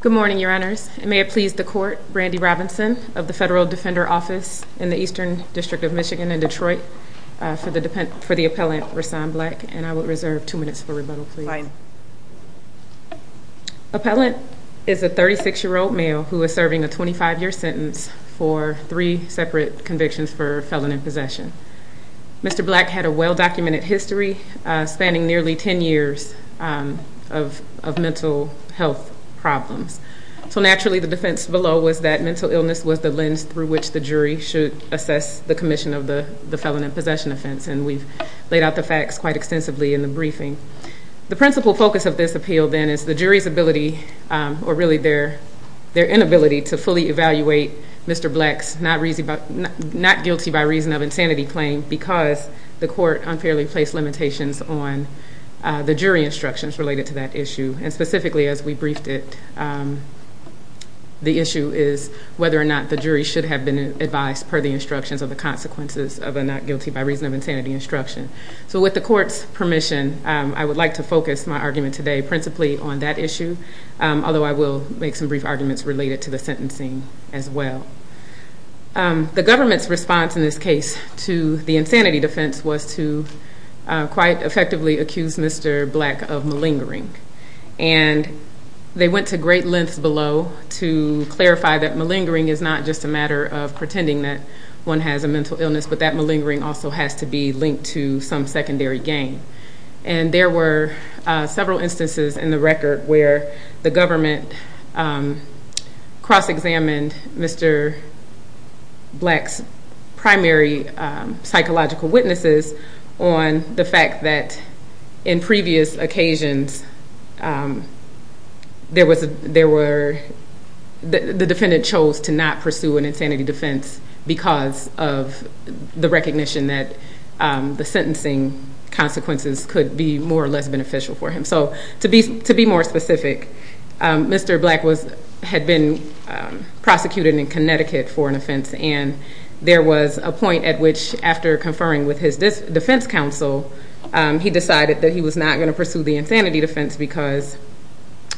Good morning, Your Honors, and may it please the Court, Brandi Robinson of the Federal Defender Office in the Eastern District of Michigan in Detroit for the appellant, Rahsaan Black, and I will reserve two minutes for rebuttal, please. Appellant is a 36-year-old male who is serving a 25-year sentence for three separate convictions for felon in possession. Mr. Black had a well documented history spanning nearly 10 years of mental health problems, so which the jury should assess the commission of the felon in possession offense, and we've laid out the facts quite extensively in the briefing. The principal focus of this appeal, then, is the jury's ability, or really their inability, to fully evaluate Mr. Black's not guilty by reason of insanity claim because the court unfairly placed limitations on the jury instructions related to that issue, and specifically as we briefed it, the issue is whether or not the jury should have been advised per the instructions of the consequences of a not guilty by reason of insanity instruction. So with the court's permission, I would like to focus my argument today principally on that issue, although I will make some brief arguments related to the sentencing as well. The government's response in this case to the insanity defense was to quite effectively accuse Mr. Black of malingering, and they went to great lengths to justify that malingering is not just a matter of pretending that one has a mental illness, but that malingering also has to be linked to some secondary gain, and there were several instances in the record where the government cross examined Mr. Black's primary psychological witnesses on the fact that in previous occasions, the defendant chose to not pursue an insanity defense because of the recognition that the sentencing consequences could be more or less beneficial for him. So to be more specific, Mr. Black had been prosecuted in Connecticut for an offense, and there was a point at which after conferring with his defense counsel, he decided that he was not going to pursue the insanity defense because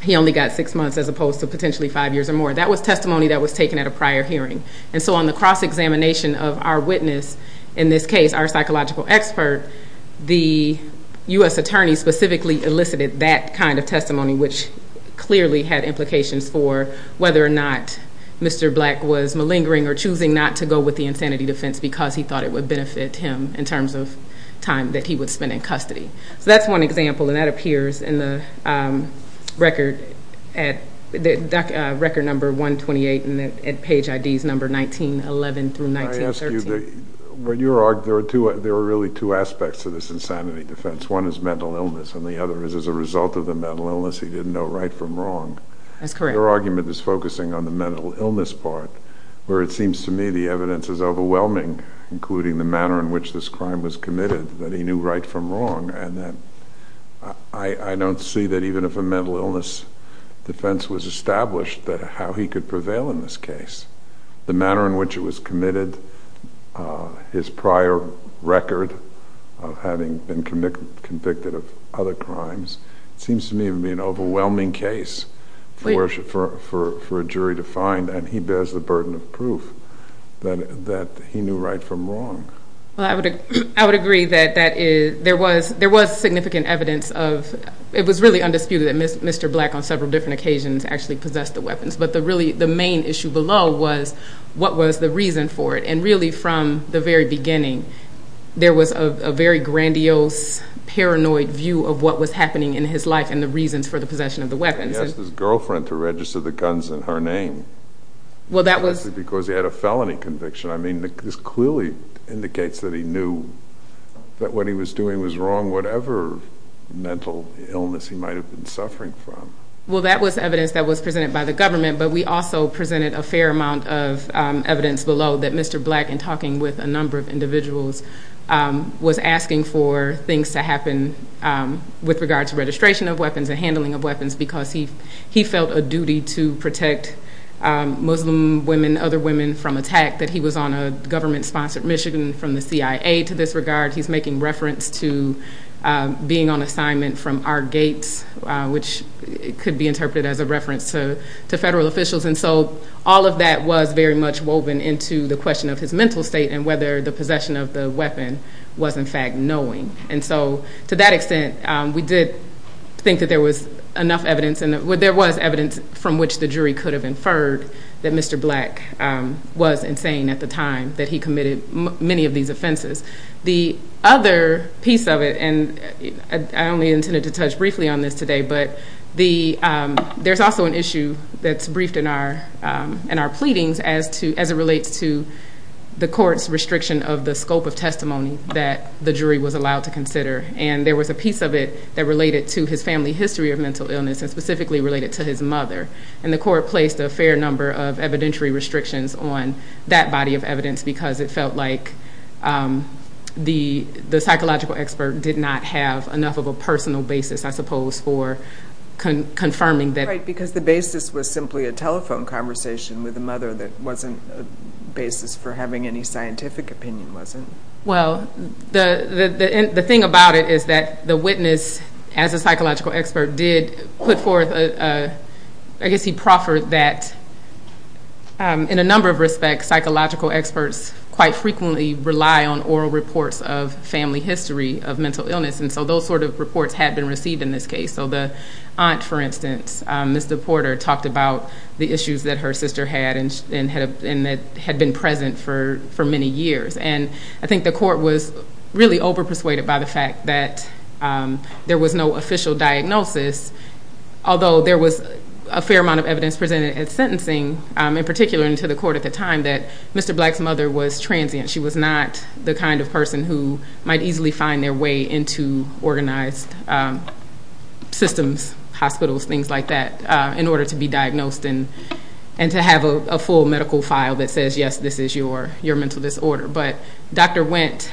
he only got six months as opposed to potentially five years or more. That was testimony that was taken at a prior hearing, and so on the cross-examination of our witness in this case, our psychological expert, the U.S. attorney specifically elicited that kind of testimony, which clearly had implications for whether or not Mr. Black was malingering or choosing not to go with the insanity defense because he thought it would benefit him in terms of time that he would spend in custody. So that's one example, and that appears in the record at record number 128 and at page IDs number 1911 through 1913. I ask you, there are really two aspects to this insanity defense. One is mental illness, and the other is as a result of the mental illness, he didn't know right from wrong. That's correct. Your argument is focusing on the mental illness part, where it seems to me the manner in which this crime was committed that he knew right from wrong. I don't see that even if a mental illness defense was established that how he could prevail in this case. The manner in which it was committed, his prior record of having been convicted of other crimes, it seems to me to be an overwhelming case for a jury to find, and he bears the burden of proof that he knew right from wrong. I would agree that there was significant evidence of, it was really undisputed that Mr. Black on several different occasions actually possessed the weapons, but the main issue below was what was the reason for it, and really from the very beginning, there was a very grandiose, paranoid view of what was happening in his life and the reasons for the possession of the weapons. He asked his girlfriend to register the guns in her name. Well, that was... Because he had a felony conviction. This clearly indicates that he knew that what he was doing was wrong, whatever mental illness he might have been suffering from. Well, that was evidence that was presented by the government, but we also presented a fair amount of evidence below that Mr. Black, in talking with a number of individuals, was asking for things to happen with regard to registration of weapons and Muslim women, other women from attack, that he was on a government sponsored Michigan from the CIA to this regard. He's making reference to being on assignment from our gates, which could be interpreted as a reference to federal officials. And so all of that was very much woven into the question of his mental state and whether the possession of the weapon was in fact knowing. And so to that extent, we did think that there was enough evidence, and there was evidence from which the Mr. Black was insane at the time that he committed many of these offenses. The other piece of it, and I only intended to touch briefly on this today, but there's also an issue that's briefed in our pleadings as it relates to the court's restriction of the scope of testimony that the jury was allowed to consider. And there was a piece of it that related to his family history of mental illness and specifically related to his mother. And the court placed a fair number of evidentiary restrictions on that body of evidence because it felt like the psychological expert did not have enough of a personal basis, I suppose, for confirming that. Right, because the basis was simply a telephone conversation with the mother that wasn't a basis for having any scientific opinion, was it? Well, the thing about it is that the witness, as a psychological expert, did put forth... I guess he proffered that in a number of respects, psychological experts quite frequently rely on oral reports of family history of mental illness, and so those sort of reports have been received in this case. So the aunt, for instance, Mr. Porter talked about the issues that her sister had and that had been present for many years. And I think the court was really over persuaded by the fact that there was no official diagnosis, although there was a fair amount of evidence presented at sentencing, in particular to the court at the time, that Mr. Black's mother was transient. She was not the kind of person who might easily find their way into organized systems, hospitals, things like that, in order to be diagnosed and to have a full medical file that says, yes, this is your mental disorder. But Dr. Wendt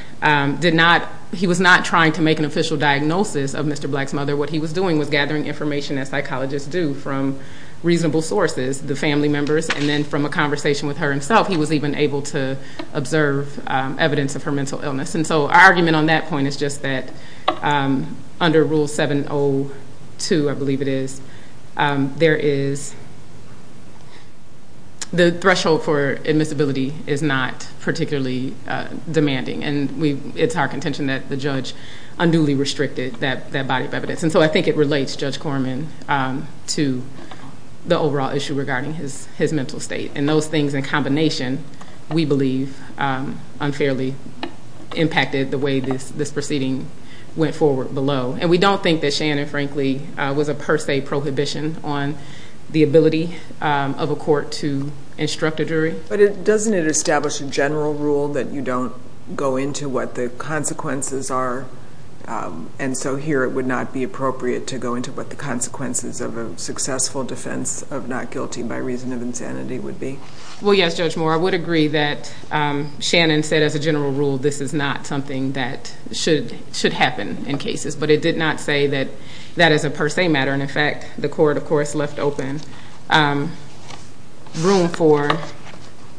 did not... He was not trying to make an official diagnosis of Mr. Black's mother. What he was doing was gathering information as psychologists do from reasonable sources, the family members, and then from a conversation with her himself, he was even able to observe evidence of her mental illness. And so our argument on that point is just that under Rule 702, I believe it is, there is... The threshold for admissibility is not particularly demanding, and it's our contention that the judge unduly restricted that body of evidence. And so I think it relates, Judge Corman, to the overall issue regarding his mental state. And those things in combination, we believe, unfairly impacted the way this proceeding went forward below. And we don't think that Shannon, frankly, was a per se prohibition on the ability of a court to instruct a jury. But doesn't it establish a general rule that you don't go into what the consequences are? And so here, it would not be appropriate to go into what the consequences of a successful defense of not guilty by reason of insanity would be. Well, yes, Judge Moore, I would agree that Shannon said as a general rule, this is not something that should happen in cases. But it did not say that that is a per se matter. And in fact, the court, of course, left open room for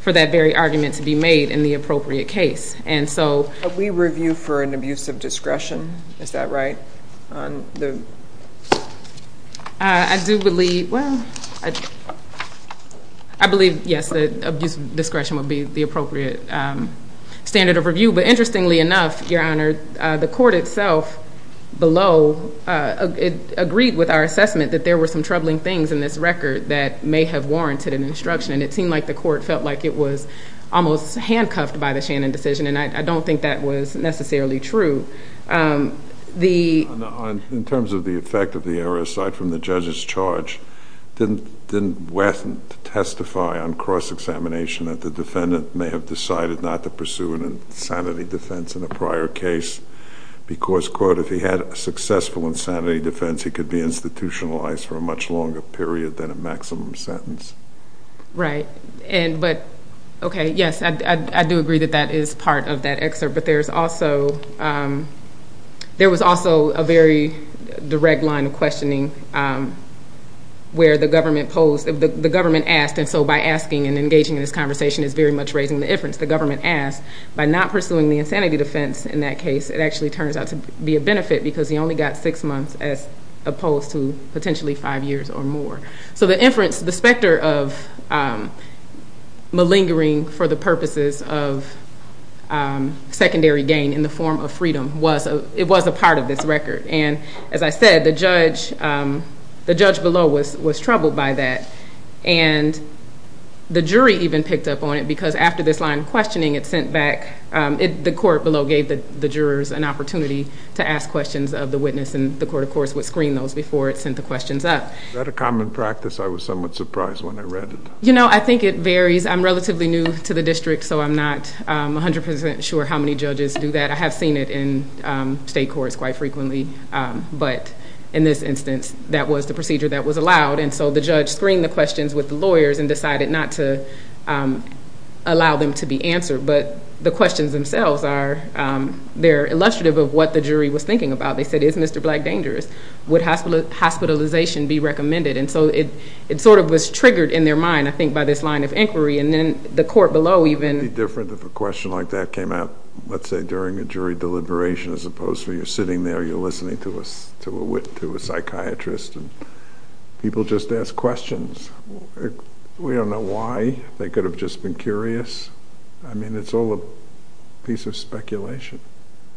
that very argument to be made in the appropriate case. And so... But we review for an abuse of discretion, is that right? On the... I do believe... Well, I believe, yes, that abuse of discretion would be the appropriate standard of review. But interestingly enough, Your Honor, the court itself below agreed with our assessment that there were some troubling things in this record that may have warranted an instruction. And it seemed like the court felt like it was almost handcuffed by the Shannon decision, and I don't think that was necessarily true. The... In terms of the effect of the error, aside from the judge's charge, didn't Wesson testify on cross examination that the defendant may have decided not to pursue an insanity defense in a prior case? Because, quote, if he had a successful insanity defense, he could be institutionalized for a much longer period than a maximum sentence. Right. And... But... Okay, yes, I do agree that that is part of that excerpt. But there's also... There was also a very direct line of questioning where the government posed... The government asked, and so by asking and engaging in this conversation is very much raising the inference, the government asked, by not pursuing the insanity defense in that case, it actually turns out to be a benefit because he only got six months as opposed to potentially five years or more. So the inference, the specter of malingering for the purposes of secondary gain in the form of freedom was... It was a part of this record. And as I said, the judge... The judge below was troubled by that. And the jury even picked up on it because after this line of questioning, it sent back... The court below gave the jurors an opportunity to ask questions of the witness, and the court, of course, would screen those before it sent the questions up. Is that a common practice? I was somewhat surprised when I read it. I think it varies. I'm relatively new to the district, so I'm not 100% sure how many judges do that. I have seen it in state courts quite frequently, but in this instance, that was the procedure that was allowed. And so the judge screened the questions with the lawyers and decided not to allow them to be answered. But the questions themselves are... They're illustrative of what the jury was thinking about. They said, is Mr. Black dangerous? Would hospitalization be recommended? And so it sort of was triggered in their mind, I think, by this line of inquiry. And then the court below even... Would it be different if a question like that came out, let's say, during a jury deliberation as opposed to you're sitting there, you're listening to a psychiatrist, and people just ask questions. We don't know why. They could have just been curious. It's all a piece of speculation.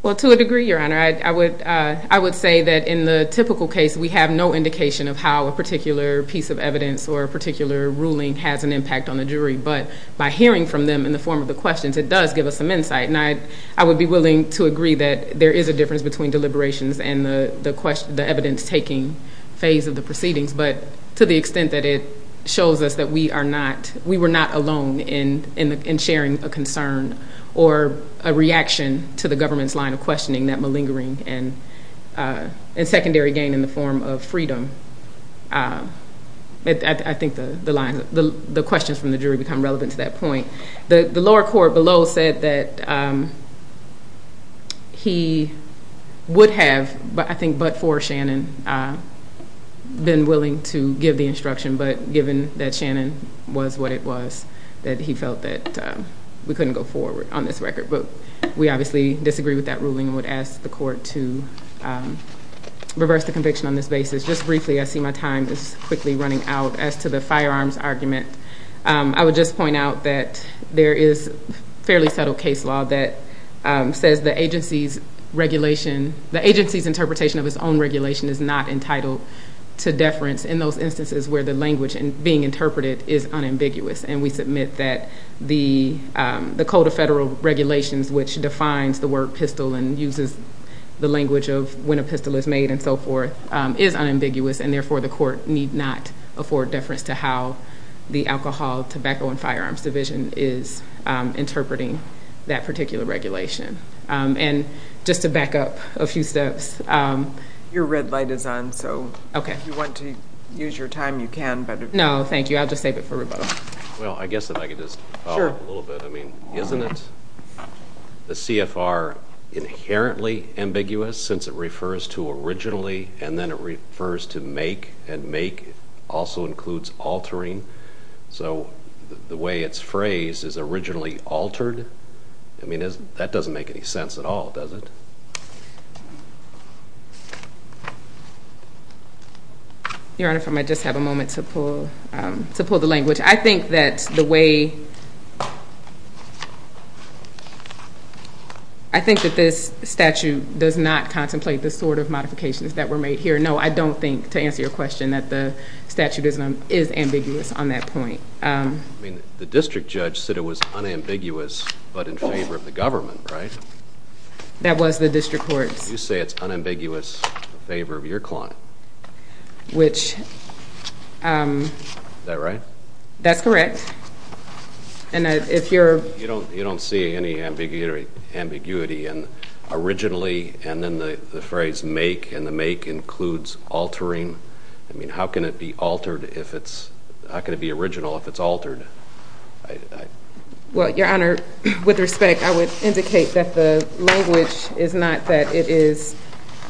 Well, to a degree, Your Honor. I would say that in the typical case, we have no indication of how a particular piece of evidence or a particular ruling has an impact on the jury. But by hearing from them in the form of the questions, it does give us some insight. And I would be willing to agree that there is a difference between deliberations and the evidence taking phase of the proceedings, but to the extent that it shows us that we are not... We were not alone in sharing a concern or a reaction to the government's line of questioning, that malingering and secondary gain in the form of freedom. I think the lines... The questions from the jury become relevant to that I think, but for Shannon, been willing to give the instruction, but given that Shannon was what it was, that he felt that we couldn't go forward on this record. But we obviously disagree with that ruling and would ask the court to reverse the conviction on this basis. Just briefly, I see my time is quickly running out. As to the firearms argument, I would just point out that there is a fairly subtle case law that says the agency's regulation... The agency's interpretation of its own regulation is not entitled to deference in those instances where the language being interpreted is unambiguous. And we submit that the Code of Federal Regulations, which defines the word pistol and uses the language of when a pistol is made and so forth, is unambiguous, and therefore the court need not afford deference to how the Alcohol, Tobacco and Firearms Division is interpreting that particular regulation. And just to back up a few steps... Your red light is on, so if you want to use your time, you can, but... No, thank you. I'll just save it for rebuttal. Well, I guess if I could just follow up a little bit. I mean, isn't it the CFR inherently ambiguous, since it refers to originally and then it refers to make, and make also includes altering? So the way it's phrased is originally altered? I mean, that doesn't make any sense at all, does it? Your Honor, if I might just have a moment to pull the language. I think that the way... I think that this statute does not contemplate the sort of modifications that were made here. No, I don't think, to answer your question, that the statute is ambiguous on that point. I mean, the district judge said it was unambiguous, but in favor of the government, right? That was the district court's... You say it's unambiguous in favor of your client. Which... Is that right? That's correct. And if you're... You don't see any ambiguity in originally and then the phrase make, and the make includes altering. I mean, how can it be altered if it's... How can it be original if it's altered? Well, your Honor, with respect, I would indicate that the language is not that it is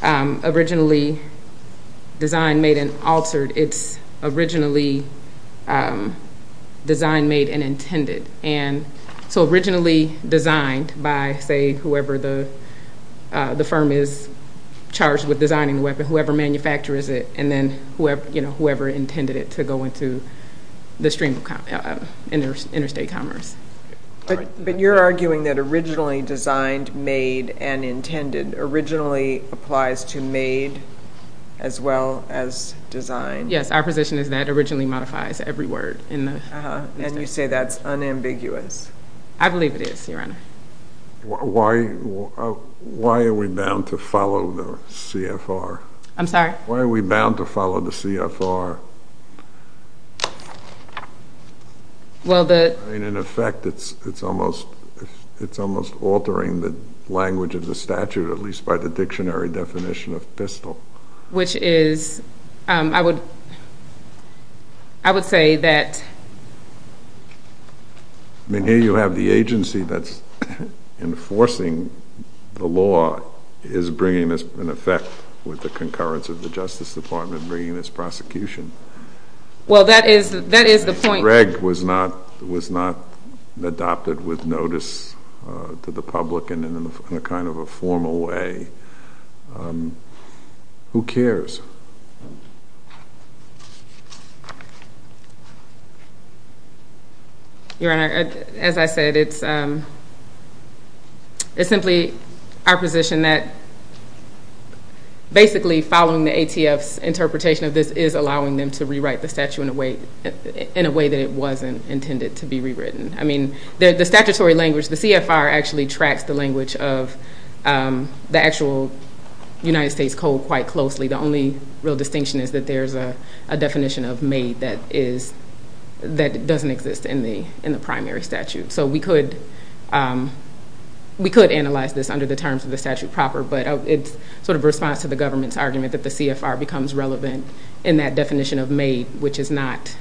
originally designed, made, and altered. It's originally designed, made, and intended. And so originally designed by, say, whoever the firm is charged with designing the weapon, whoever manufactures it, and then whoever intended it to go into the stream of interstate commerce. But you're arguing that originally designed, made, and intended originally applies to made as well as design? Yes, our position is that originally modifies every word in the... And you say that's unambiguous. I believe it is, your Honor. Why are we bound to follow the CFR? I'm sorry? Why are we bound to follow the CFR? Well, the... In effect, it's almost altering the language of the statute, at least by the dictionary definition of pistol. Which is... I would say that... I mean, here you have the agency that's enforcing the law is bringing this in effect with the concurrence of the Justice Department bringing this prosecution. Well, that is the point. The reg was not adopted with notice to the public and in a kind of a formal way. Who cares? Your Honor, as I said, it's simply our position that basically following the ATF's interpretation of this is allowing them to rewrite the statute in a way that it wasn't intended to be rewritten. I mean, the statutory language, the CFR actually tracks the language of the actual United States code quite closely. The only real distinction is that there's a definition of made that doesn't exist in the primary statute. So we could analyze this under the terms of the statute proper, but it's sort of response to the government's argument that the CFR becomes relevant in that definition of made, which is not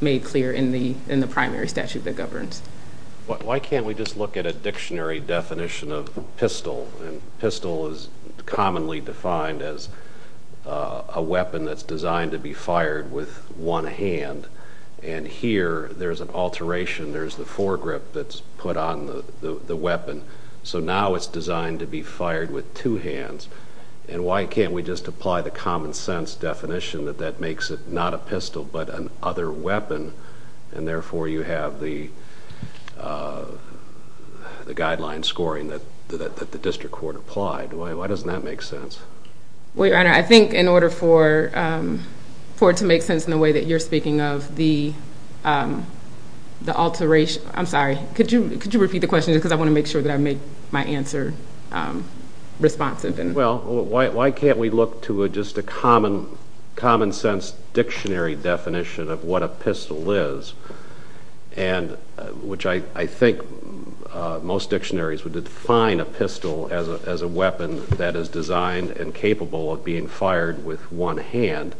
made clear in the primary statute that governs. Why can't we just look at a dictionary definition of pistol? And pistol is commonly defined as a weapon that's designed to be fired with one hand. And here there's an alteration. There's the fore grip that's put on the weapon. So now it's designed to be fired with two hands. And why can't we just apply the common sense definition that that makes it not a pistol, but an other weapon? And therefore you have the guideline scoring that the district court applied. Why doesn't that make sense? Well, your honor, I think in order for it to make sense in the way that you're speaking of the alteration, I'm sorry, could you repeat the question? Because I want to make sure that I make my answer responsive. Well, why can't we look to just a common sense dictionary definition of what a pistol is? And which I think most dictionaries would define a pistol as a weapon that is designed and capable of being fired with one hand.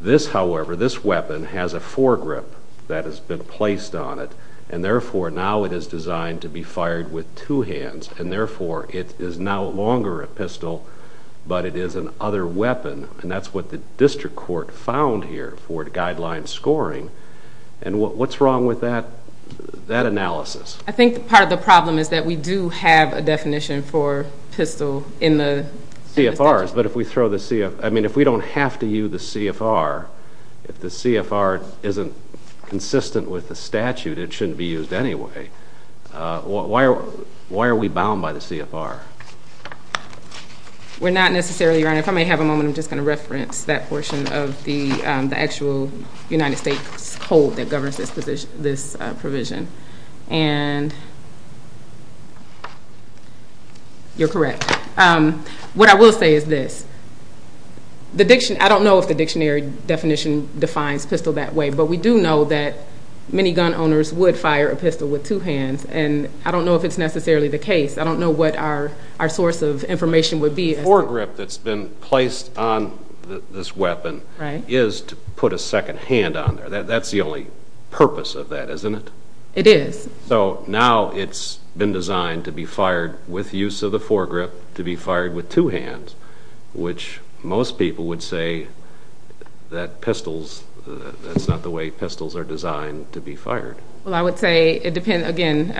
This, however, this weapon has a fore grip that has been placed on it. And therefore now it is designed to be fired with two hands. And therefore it is no longer a pistol, but it is an other weapon. And that's what the district court found here for the guideline scoring. And what's wrong with that analysis? I think part of the problem is that we do have a definition for pistol in the statute. CFRs. But if we throw the CFR, I mean, if we don't have to use the CFR, if the CFR isn't consistent with the statute, it shouldn't be used anyway. Why are we bound by the CFR? We're not necessarily, Your Honor. If I may have a moment, I'm just going to reference that portion of the actual United States code that governs this provision. And you're correct. What I will say is this. I don't know if the dictionary definition defines pistol that way, but we do know that many gun owners would fire a pistol with two hands. And I don't know if it's necessarily the case. I don't know what our source of information would be. The fore grip that's been placed on this weapon is to put a second hand on there. That's the only purpose of that, isn't it? It is. So now it's been designed to be fired with use of the That's not the way pistols are designed to be fired. Well, I would say it depends. Again,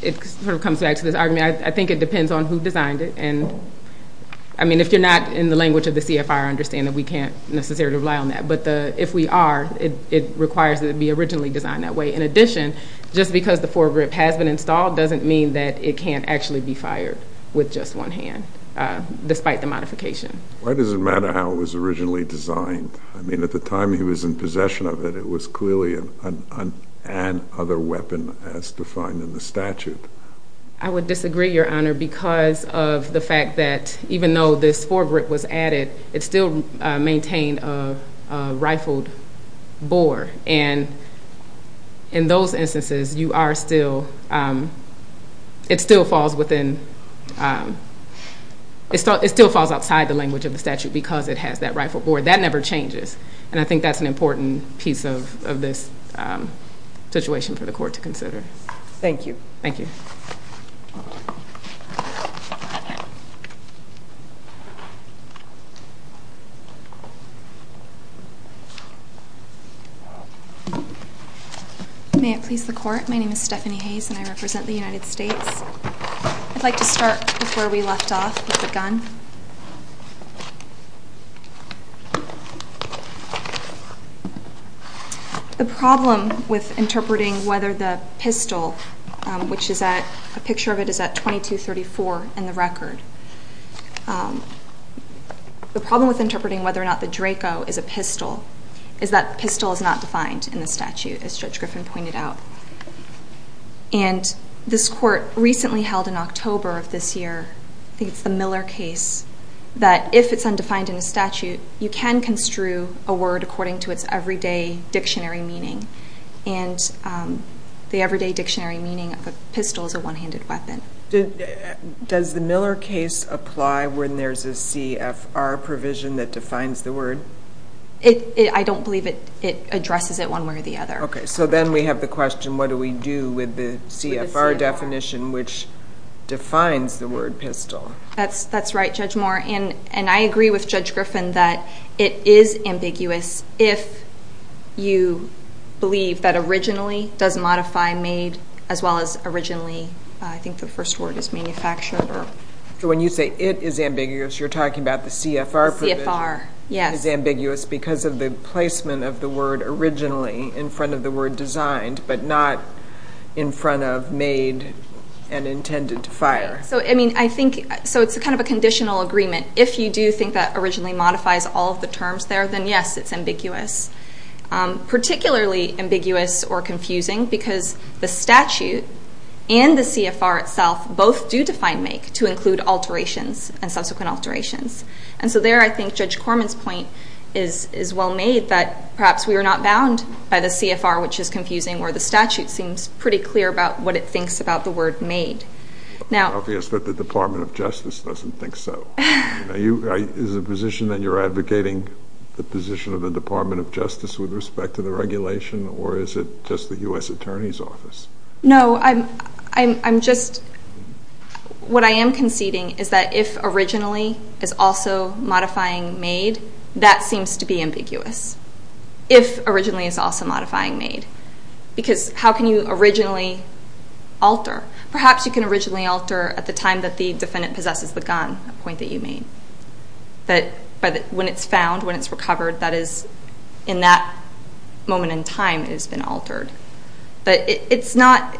it sort of comes back to this argument. I think it depends on who designed it. And I mean, if you're not in the language of the CFR, I understand that we can't necessarily rely on that. But if we are, it requires that it be originally designed that way. In addition, just because the fore grip has been installed doesn't mean that it can't actually be fired with just one hand, despite the modification. Why does it matter how it was originally designed? I mean, at the time he was in possession of it, it was clearly an other weapon as defined in the statute. I would disagree, Your Honor, because of the fact that even though this fore grip was added, it still maintained a rifled bore. And in those instances, you are still, it still falls outside the language of the statute because it has that rifled bore. That never changes. And I think that's an important piece of this situation for the court to consider. Thank you. Thank you. Thank you. May it please the court. My name is Stephanie Hayes and I represent the United States. I'd like to start before we left off with the gun. The problem with interpreting whether the pistol, which is at, a picture of it is at 2234 in the record. The problem with interpreting whether or not the Draco is a pistol is that the pistol is not defined in the statute, as Judge Griffin pointed out. And this court recently held in that if it's undefined in the statute, you can construe a word according to its everyday dictionary meaning. And the everyday dictionary meaning of a pistol is a one-handed weapon. Does the Miller case apply when there's a CFR provision that defines the word? I don't believe it addresses it one way or the other. Okay. So then we have the question, what do we do with the CFR definition, which defines the word pistol? That's right, Judge Moore. And I agree with Judge Griffin that it is ambiguous if you believe that originally does modify made as well as originally, I think the first word is manufactured. So when you say it is ambiguous, you're talking about the CFR provision? CFR, yes. Is ambiguous because of the placement of the word originally in front of the word designed, but not in front of made and intended to fire. So I mean, I think, so it's kind of a conditional agreement. If you do think that originally modifies all of the terms there, then yes, it's ambiguous. Particularly ambiguous or confusing because the statute and the CFR itself both do define make to include alterations and subsequent alterations. And so there, I think Judge Corman's point is well made that perhaps we were not bound by the CFR, which is confusing where the statute seems pretty clear about what it thinks about the word made. It's obvious that the Department of Justice doesn't think so. Is it a position that you're advocating the position of the Department of Justice with respect to the regulation, or is it just the U.S. Attorney's Office? No, I'm just, what I am conceding is that if originally is also modifying made, that seems to be ambiguous. If originally is also modifying made, because how can you originally alter? Perhaps you can originally alter at the time that the defendant possesses the gun, a point that you made. But when it's found, when it's recovered, that is in that moment in time it has been altered. But it's not,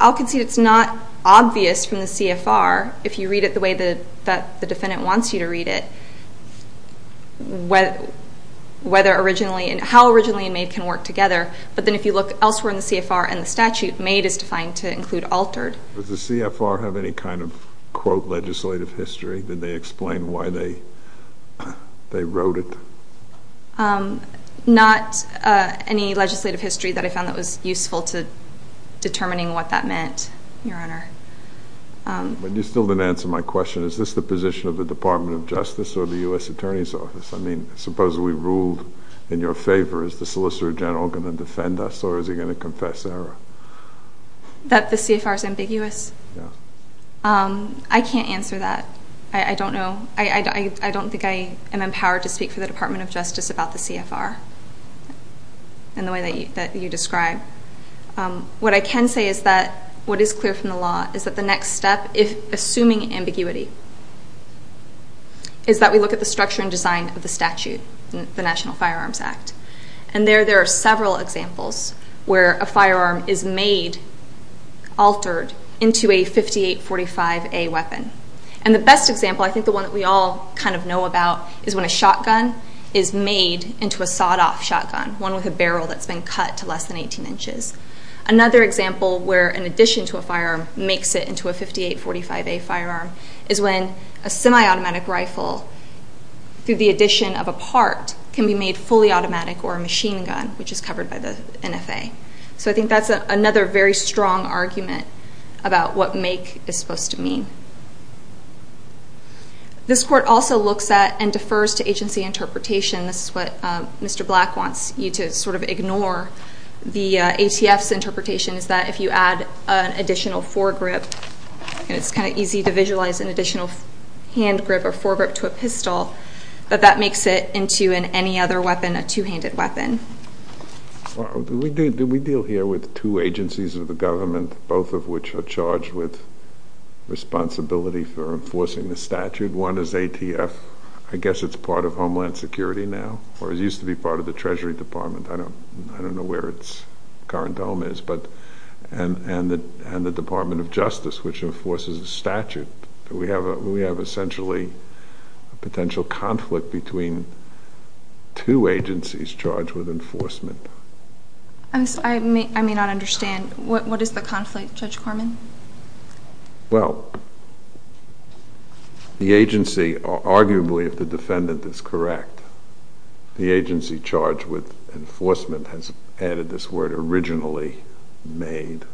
I'll concede it's not obvious from the CFR if you read it the way that the defendant wants you to read it, whether originally, how originally and made can work together. But then if you look elsewhere in the CFR and the statute, made is defined to include altered. Does the CFR have any kind of, quote, legislative history? Did they explain why they wrote it? Not any legislative history that I found that was useful to determining what that meant, Your Honor. But you still didn't answer my question. Is this the position of the Department of Justice or the U.S. Attorney's Office? I mean, suppose we ruled in your favor, is the Solicitor General going to defend us or is he going to confess error? That the CFR is ambiguous? Yeah. I can't answer that. I don't know. I don't think I am empowered to speak for the Department of Justice about the CFR in the way that you describe. What I can say is that what is clear from the law is that the next step, assuming ambiguity, is that we look at the structure and design of the statute, the National Firearms Act. And there, there are several examples where a firearm is made, altered, into a 5845A weapon. And the best example, I think the one that we all kind of know about, is when a shotgun is made into a sawed-off shotgun, one with a barrel that's been cut to less than 18 inches. Another example where, in addition to a firearm, makes it into a 5845A firearm, is when a semi-automatic rifle, through the addition of a part, can be made fully automatic or a machine gun, which is covered by the NFA. So I think that's another very strong argument about what make is supposed to mean. This Court also looks at and defers to agency interpretation. This is what Mr. Black wants you to sort of ignore. The ATF's interpretation is that if you add an additional foregrip, and it's kind of easy to visualize an additional hand grip or foregrip to a pistol, that that makes it into, in any other weapon, a two-handed weapon. Do we deal here with two agencies of the government, both of which are charged with responsibility for enforcing the statute? One is ATF. I guess it's part of Homeland Security now, or it used to be part of the Treasury Department. I don't know where its current home is. And the Department of Justice, which enforces the statute. Do we have, essentially, a potential conflict between two agencies charged with enforcement? I may not understand. What is the conflict, Judge Corman? Well, the agency, arguably, if the defendant is correct, the agency charged with enforcement has added this word originally made.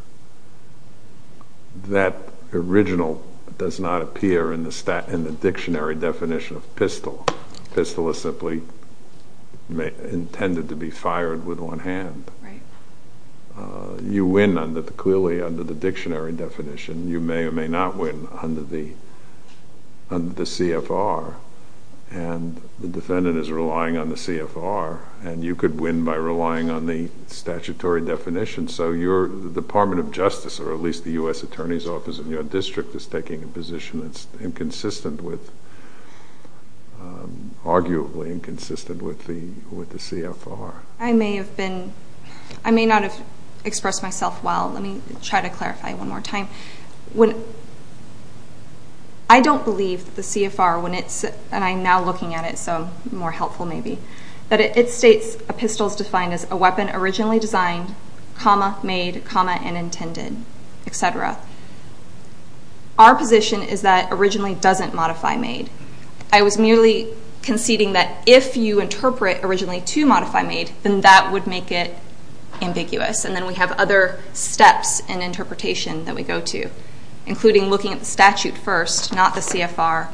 That original does not appear in the dictionary definition of pistol. Pistol is simply intended to be fired with one hand. You win, clearly, under the dictionary definition. You may or may not win under the CFR. And the defendant is relying on the CFR, and you could win by relying on the statutory definition. So the Department of Justice, or at least the U.S. Attorney's Office in your district, is taking a position that's inconsistent with, arguably, inconsistent with the CFR. I may not have expressed myself well. Let me try to clarify one more time. I don't believe the CFR, and I'm now looking at it, so more helpful maybe, that it states a pistol is defined as a weapon originally designed, made, and intended, et cetera. Our position is that originally doesn't modify made. I was merely conceding that if you interpret originally to modify made, then that would make it ambiguous. And then we have other steps in interpretation that we go to, including looking at the statute first, not the CFR,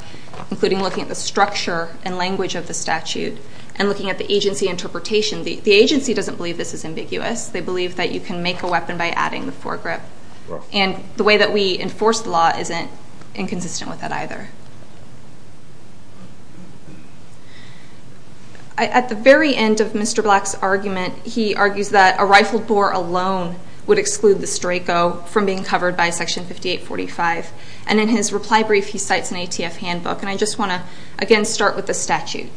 including looking at the structure and language of the statute, and looking at the agency interpretation. The agency doesn't believe this is ambiguous. They believe that you can make a weapon by adding the foregrip. And the way that we enforce the law isn't inconsistent with that either. At the very end of Mr. Black's argument, he argues that a rifled bore alone would exclude the strako from being covered by Section 5845. And in his reply brief, he cites an ATF handbook. And I just want to, again, start with the statute.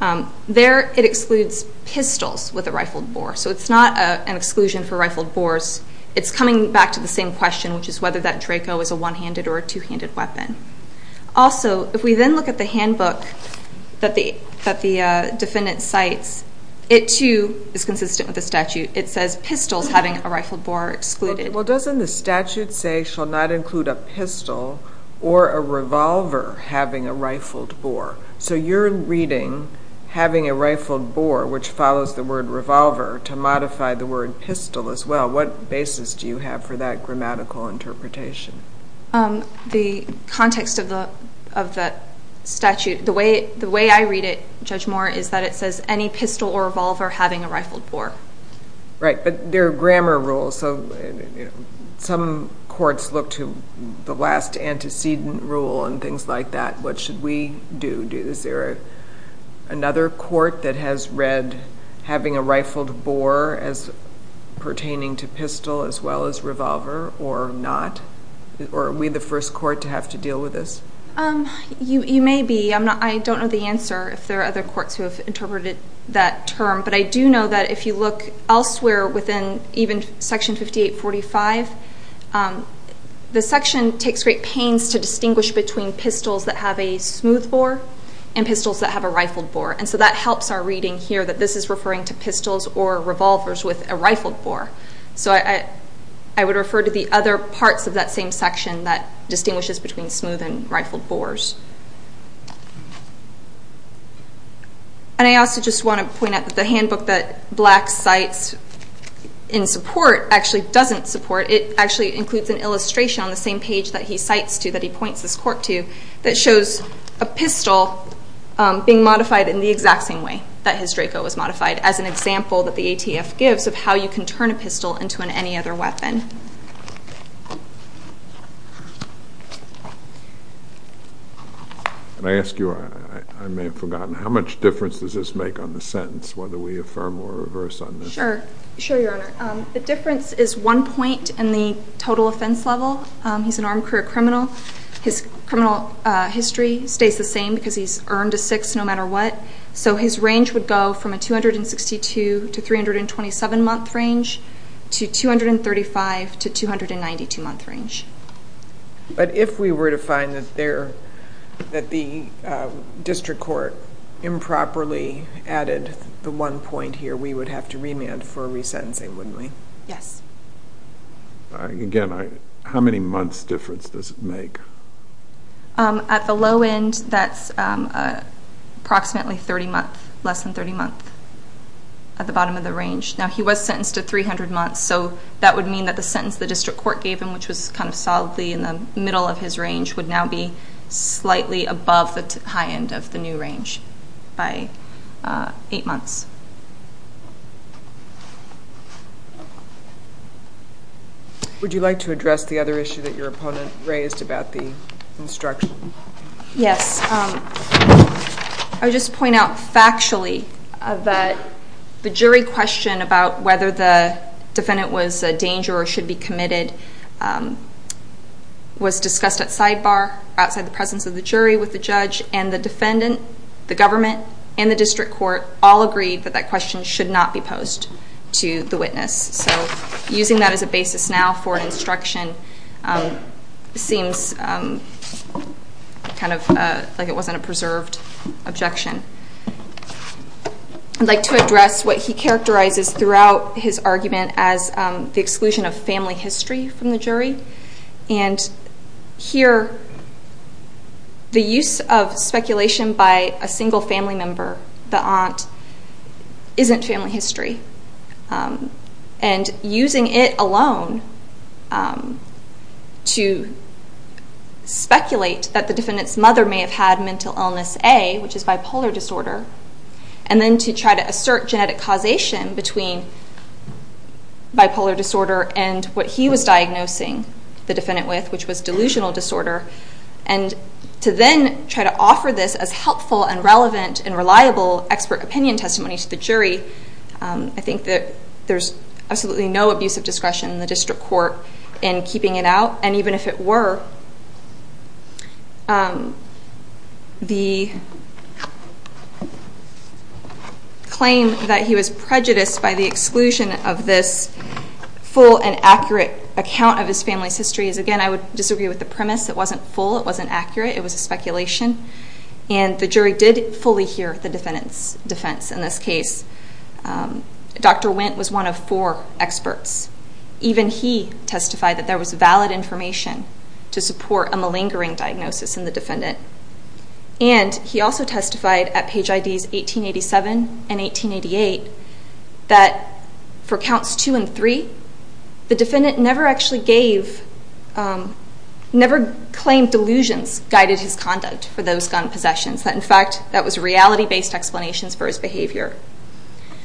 There it excludes pistols with a rifled bore. It's not an exclusion for rifled bores. It's coming back to the same question, which is whether that strako is a one-handed or a two-handed weapon. Also, if we then look at the handbook that the defendant cites, it too is consistent with the statute. It says pistols having a rifled bore are excluded. Well, doesn't the statute say shall not include a pistol or a revolver having a rifled bore? So you're reading having a rifled bore, which follows the word revolver, to modify the word pistol as well. What basis do you have for that grammatical interpretation? The context of the statute, the way I read it, Judge Moore, is that it says any pistol or revolver having a rifled bore. Right. But there are grammar rules. And some courts look to the last antecedent rule and things like that. What should we do? Another court that has read having a rifled bore as pertaining to pistol as well as revolver or not? Or are we the first court to have to deal with this? You may be. I don't know the answer, if there are other courts who have interpreted that term. But I do know that if you look elsewhere within even Section 5845, the section takes great pains to distinguish between pistols that have a smooth bore and pistols that have a rifled bore. And so that helps our reading here that this is referring to pistols or revolvers with a rifled bore. So I would refer to the other parts of that same section that distinguishes between smooth and rifled bores. And I also just want to point out that the handbook that Black cites in support actually doesn't support. It actually includes an illustration on the same page that he cites to, that he points this court to, that shows a pistol being modified in the exact same way that his Draco was modified as an example that the ATF gives of how you can turn a pistol into any other weapon. Can I ask you, I may have forgotten, how much difference does this make on the sentence, whether we affirm or reverse on this? Sure. Sure, Your Honor. The difference is one point in the total offense level. He's an armed career criminal. His criminal history stays the same because he's earned a six no matter what. So his range would go from a 262 to 327 month range to 235 to 292 month range. But if we were to find that the district court improperly added the one point here, we would have to remand for resentencing, wouldn't we? Yes. Again, how many months difference does it make? At the low end, that's approximately 30 months, less than 30 months at the bottom of the range. Now he was sentenced to 300 months. So that would mean that the sentence the district court gave him, which was kind of solidly in the middle of his range, would now be slightly above the high end of the new range by eight months. Would you like to address the other issue that your opponent raised about the instruction? Yes. I would just point out factually that the jury question about whether the defendant was a danger or should be committed was discussed at sidebar, outside the presence of the jury with the judge and the defendant, the government, and the district court all agreed that the question should not be posed to the witness. So using that as a basis now for instruction seems kind of like it wasn't a preserved objection. I'd like to address what he characterizes throughout his argument as the exclusion of family history from the jury. And here, the use of speculation by a single family member, the aunt, isn't family history. And using it alone to speculate that the defendant's mother may have had mental illness A, which is bipolar disorder, and then to try to assert genetic causation between bipolar disorder and what he was diagnosing the defendant with, which was delusional disorder, and to then try to offer this as helpful and relevant and reliable expert opinion testimony to the jury, I think that there's absolutely no abuse of discretion in the district court in keeping it out. And even if it were, the claim that he was prejudiced by the exclusion of this full and accurate account of his family's history is, again, I would disagree with the premise. It wasn't full. It wasn't accurate. It was a speculation. And the jury did fully hear the case. Dr. Wendt was one of four experts. Even he testified that there was valid information to support a malingering diagnosis in the defendant. And he also testified at Page IDs 1887 and 1888 that for counts two and three, the defendant never actually gave, never claimed delusions guided his conduct for those gun possessions. In fact, that was reality-based explanations for his behavior.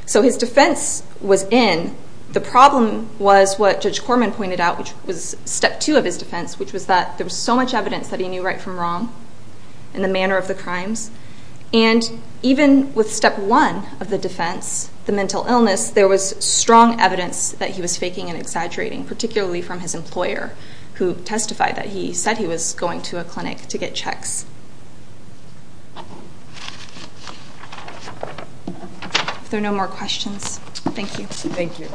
So his defense was in. The problem was what Judge Corman pointed out, which was step two of his defense, which was that there was so much evidence that he knew right from wrong in the manner of the crimes. And even with step one of the defense, the mental illness, there was strong evidence that he was faking and exaggerating, particularly from his employer who testified that he said he was going to a clinic to get checks. If there are no more questions, thank you. Thank you.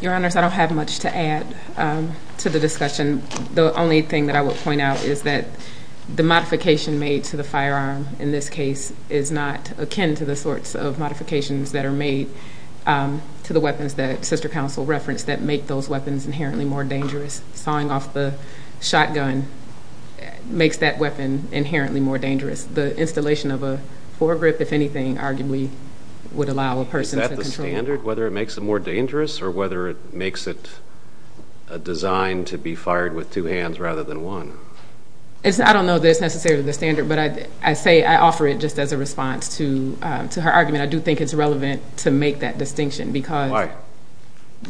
Your Honors, I don't have much to add to the discussion. The only thing that I would point out is that the modification made to the firearm in this case is not akin to the sorts of modifications that are made to the weapons that Sister Counsel referenced that make those weapons inherently more dangerous. Sawing off the shotgun makes that weapon inherently more dangerous. The installation of a foregrip, if anything, arguably would allow a person to control it. Is that the standard, whether it makes it more dangerous or whether it makes it a design to be fired with two hands rather than one? I don't know that it's necessarily the standard, but I say, I offer it just as a to make that distinction. Why?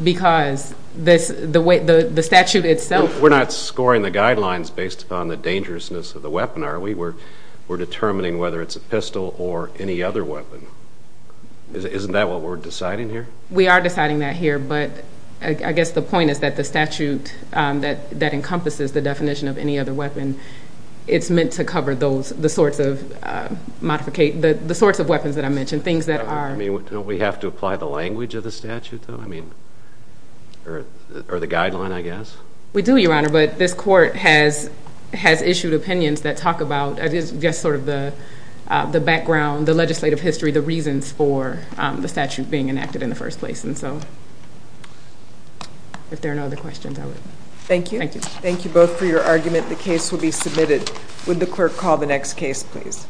Because the statute itself... We're not scoring the guidelines based upon the dangerousness of the weapon, are we? We're determining whether it's a pistol or any other weapon. Isn't that what we're deciding here? We are deciding that here, but I guess the point is that the statute that encompasses the definition of any other weapon, it's meant to modificate the sorts of weapons that I mentioned, things that are... I mean, don't we have to apply the language of the statute, though? Or the guideline, I guess? We do, Your Honor, but this court has issued opinions that talk about, I guess, the background, the legislative history, the reasons for the statute being enacted in the first place. If there are no other questions, I would... Thank you. Thank you. Thank you both for your argument. The case will be submitted. Would the clerk call the next case, please?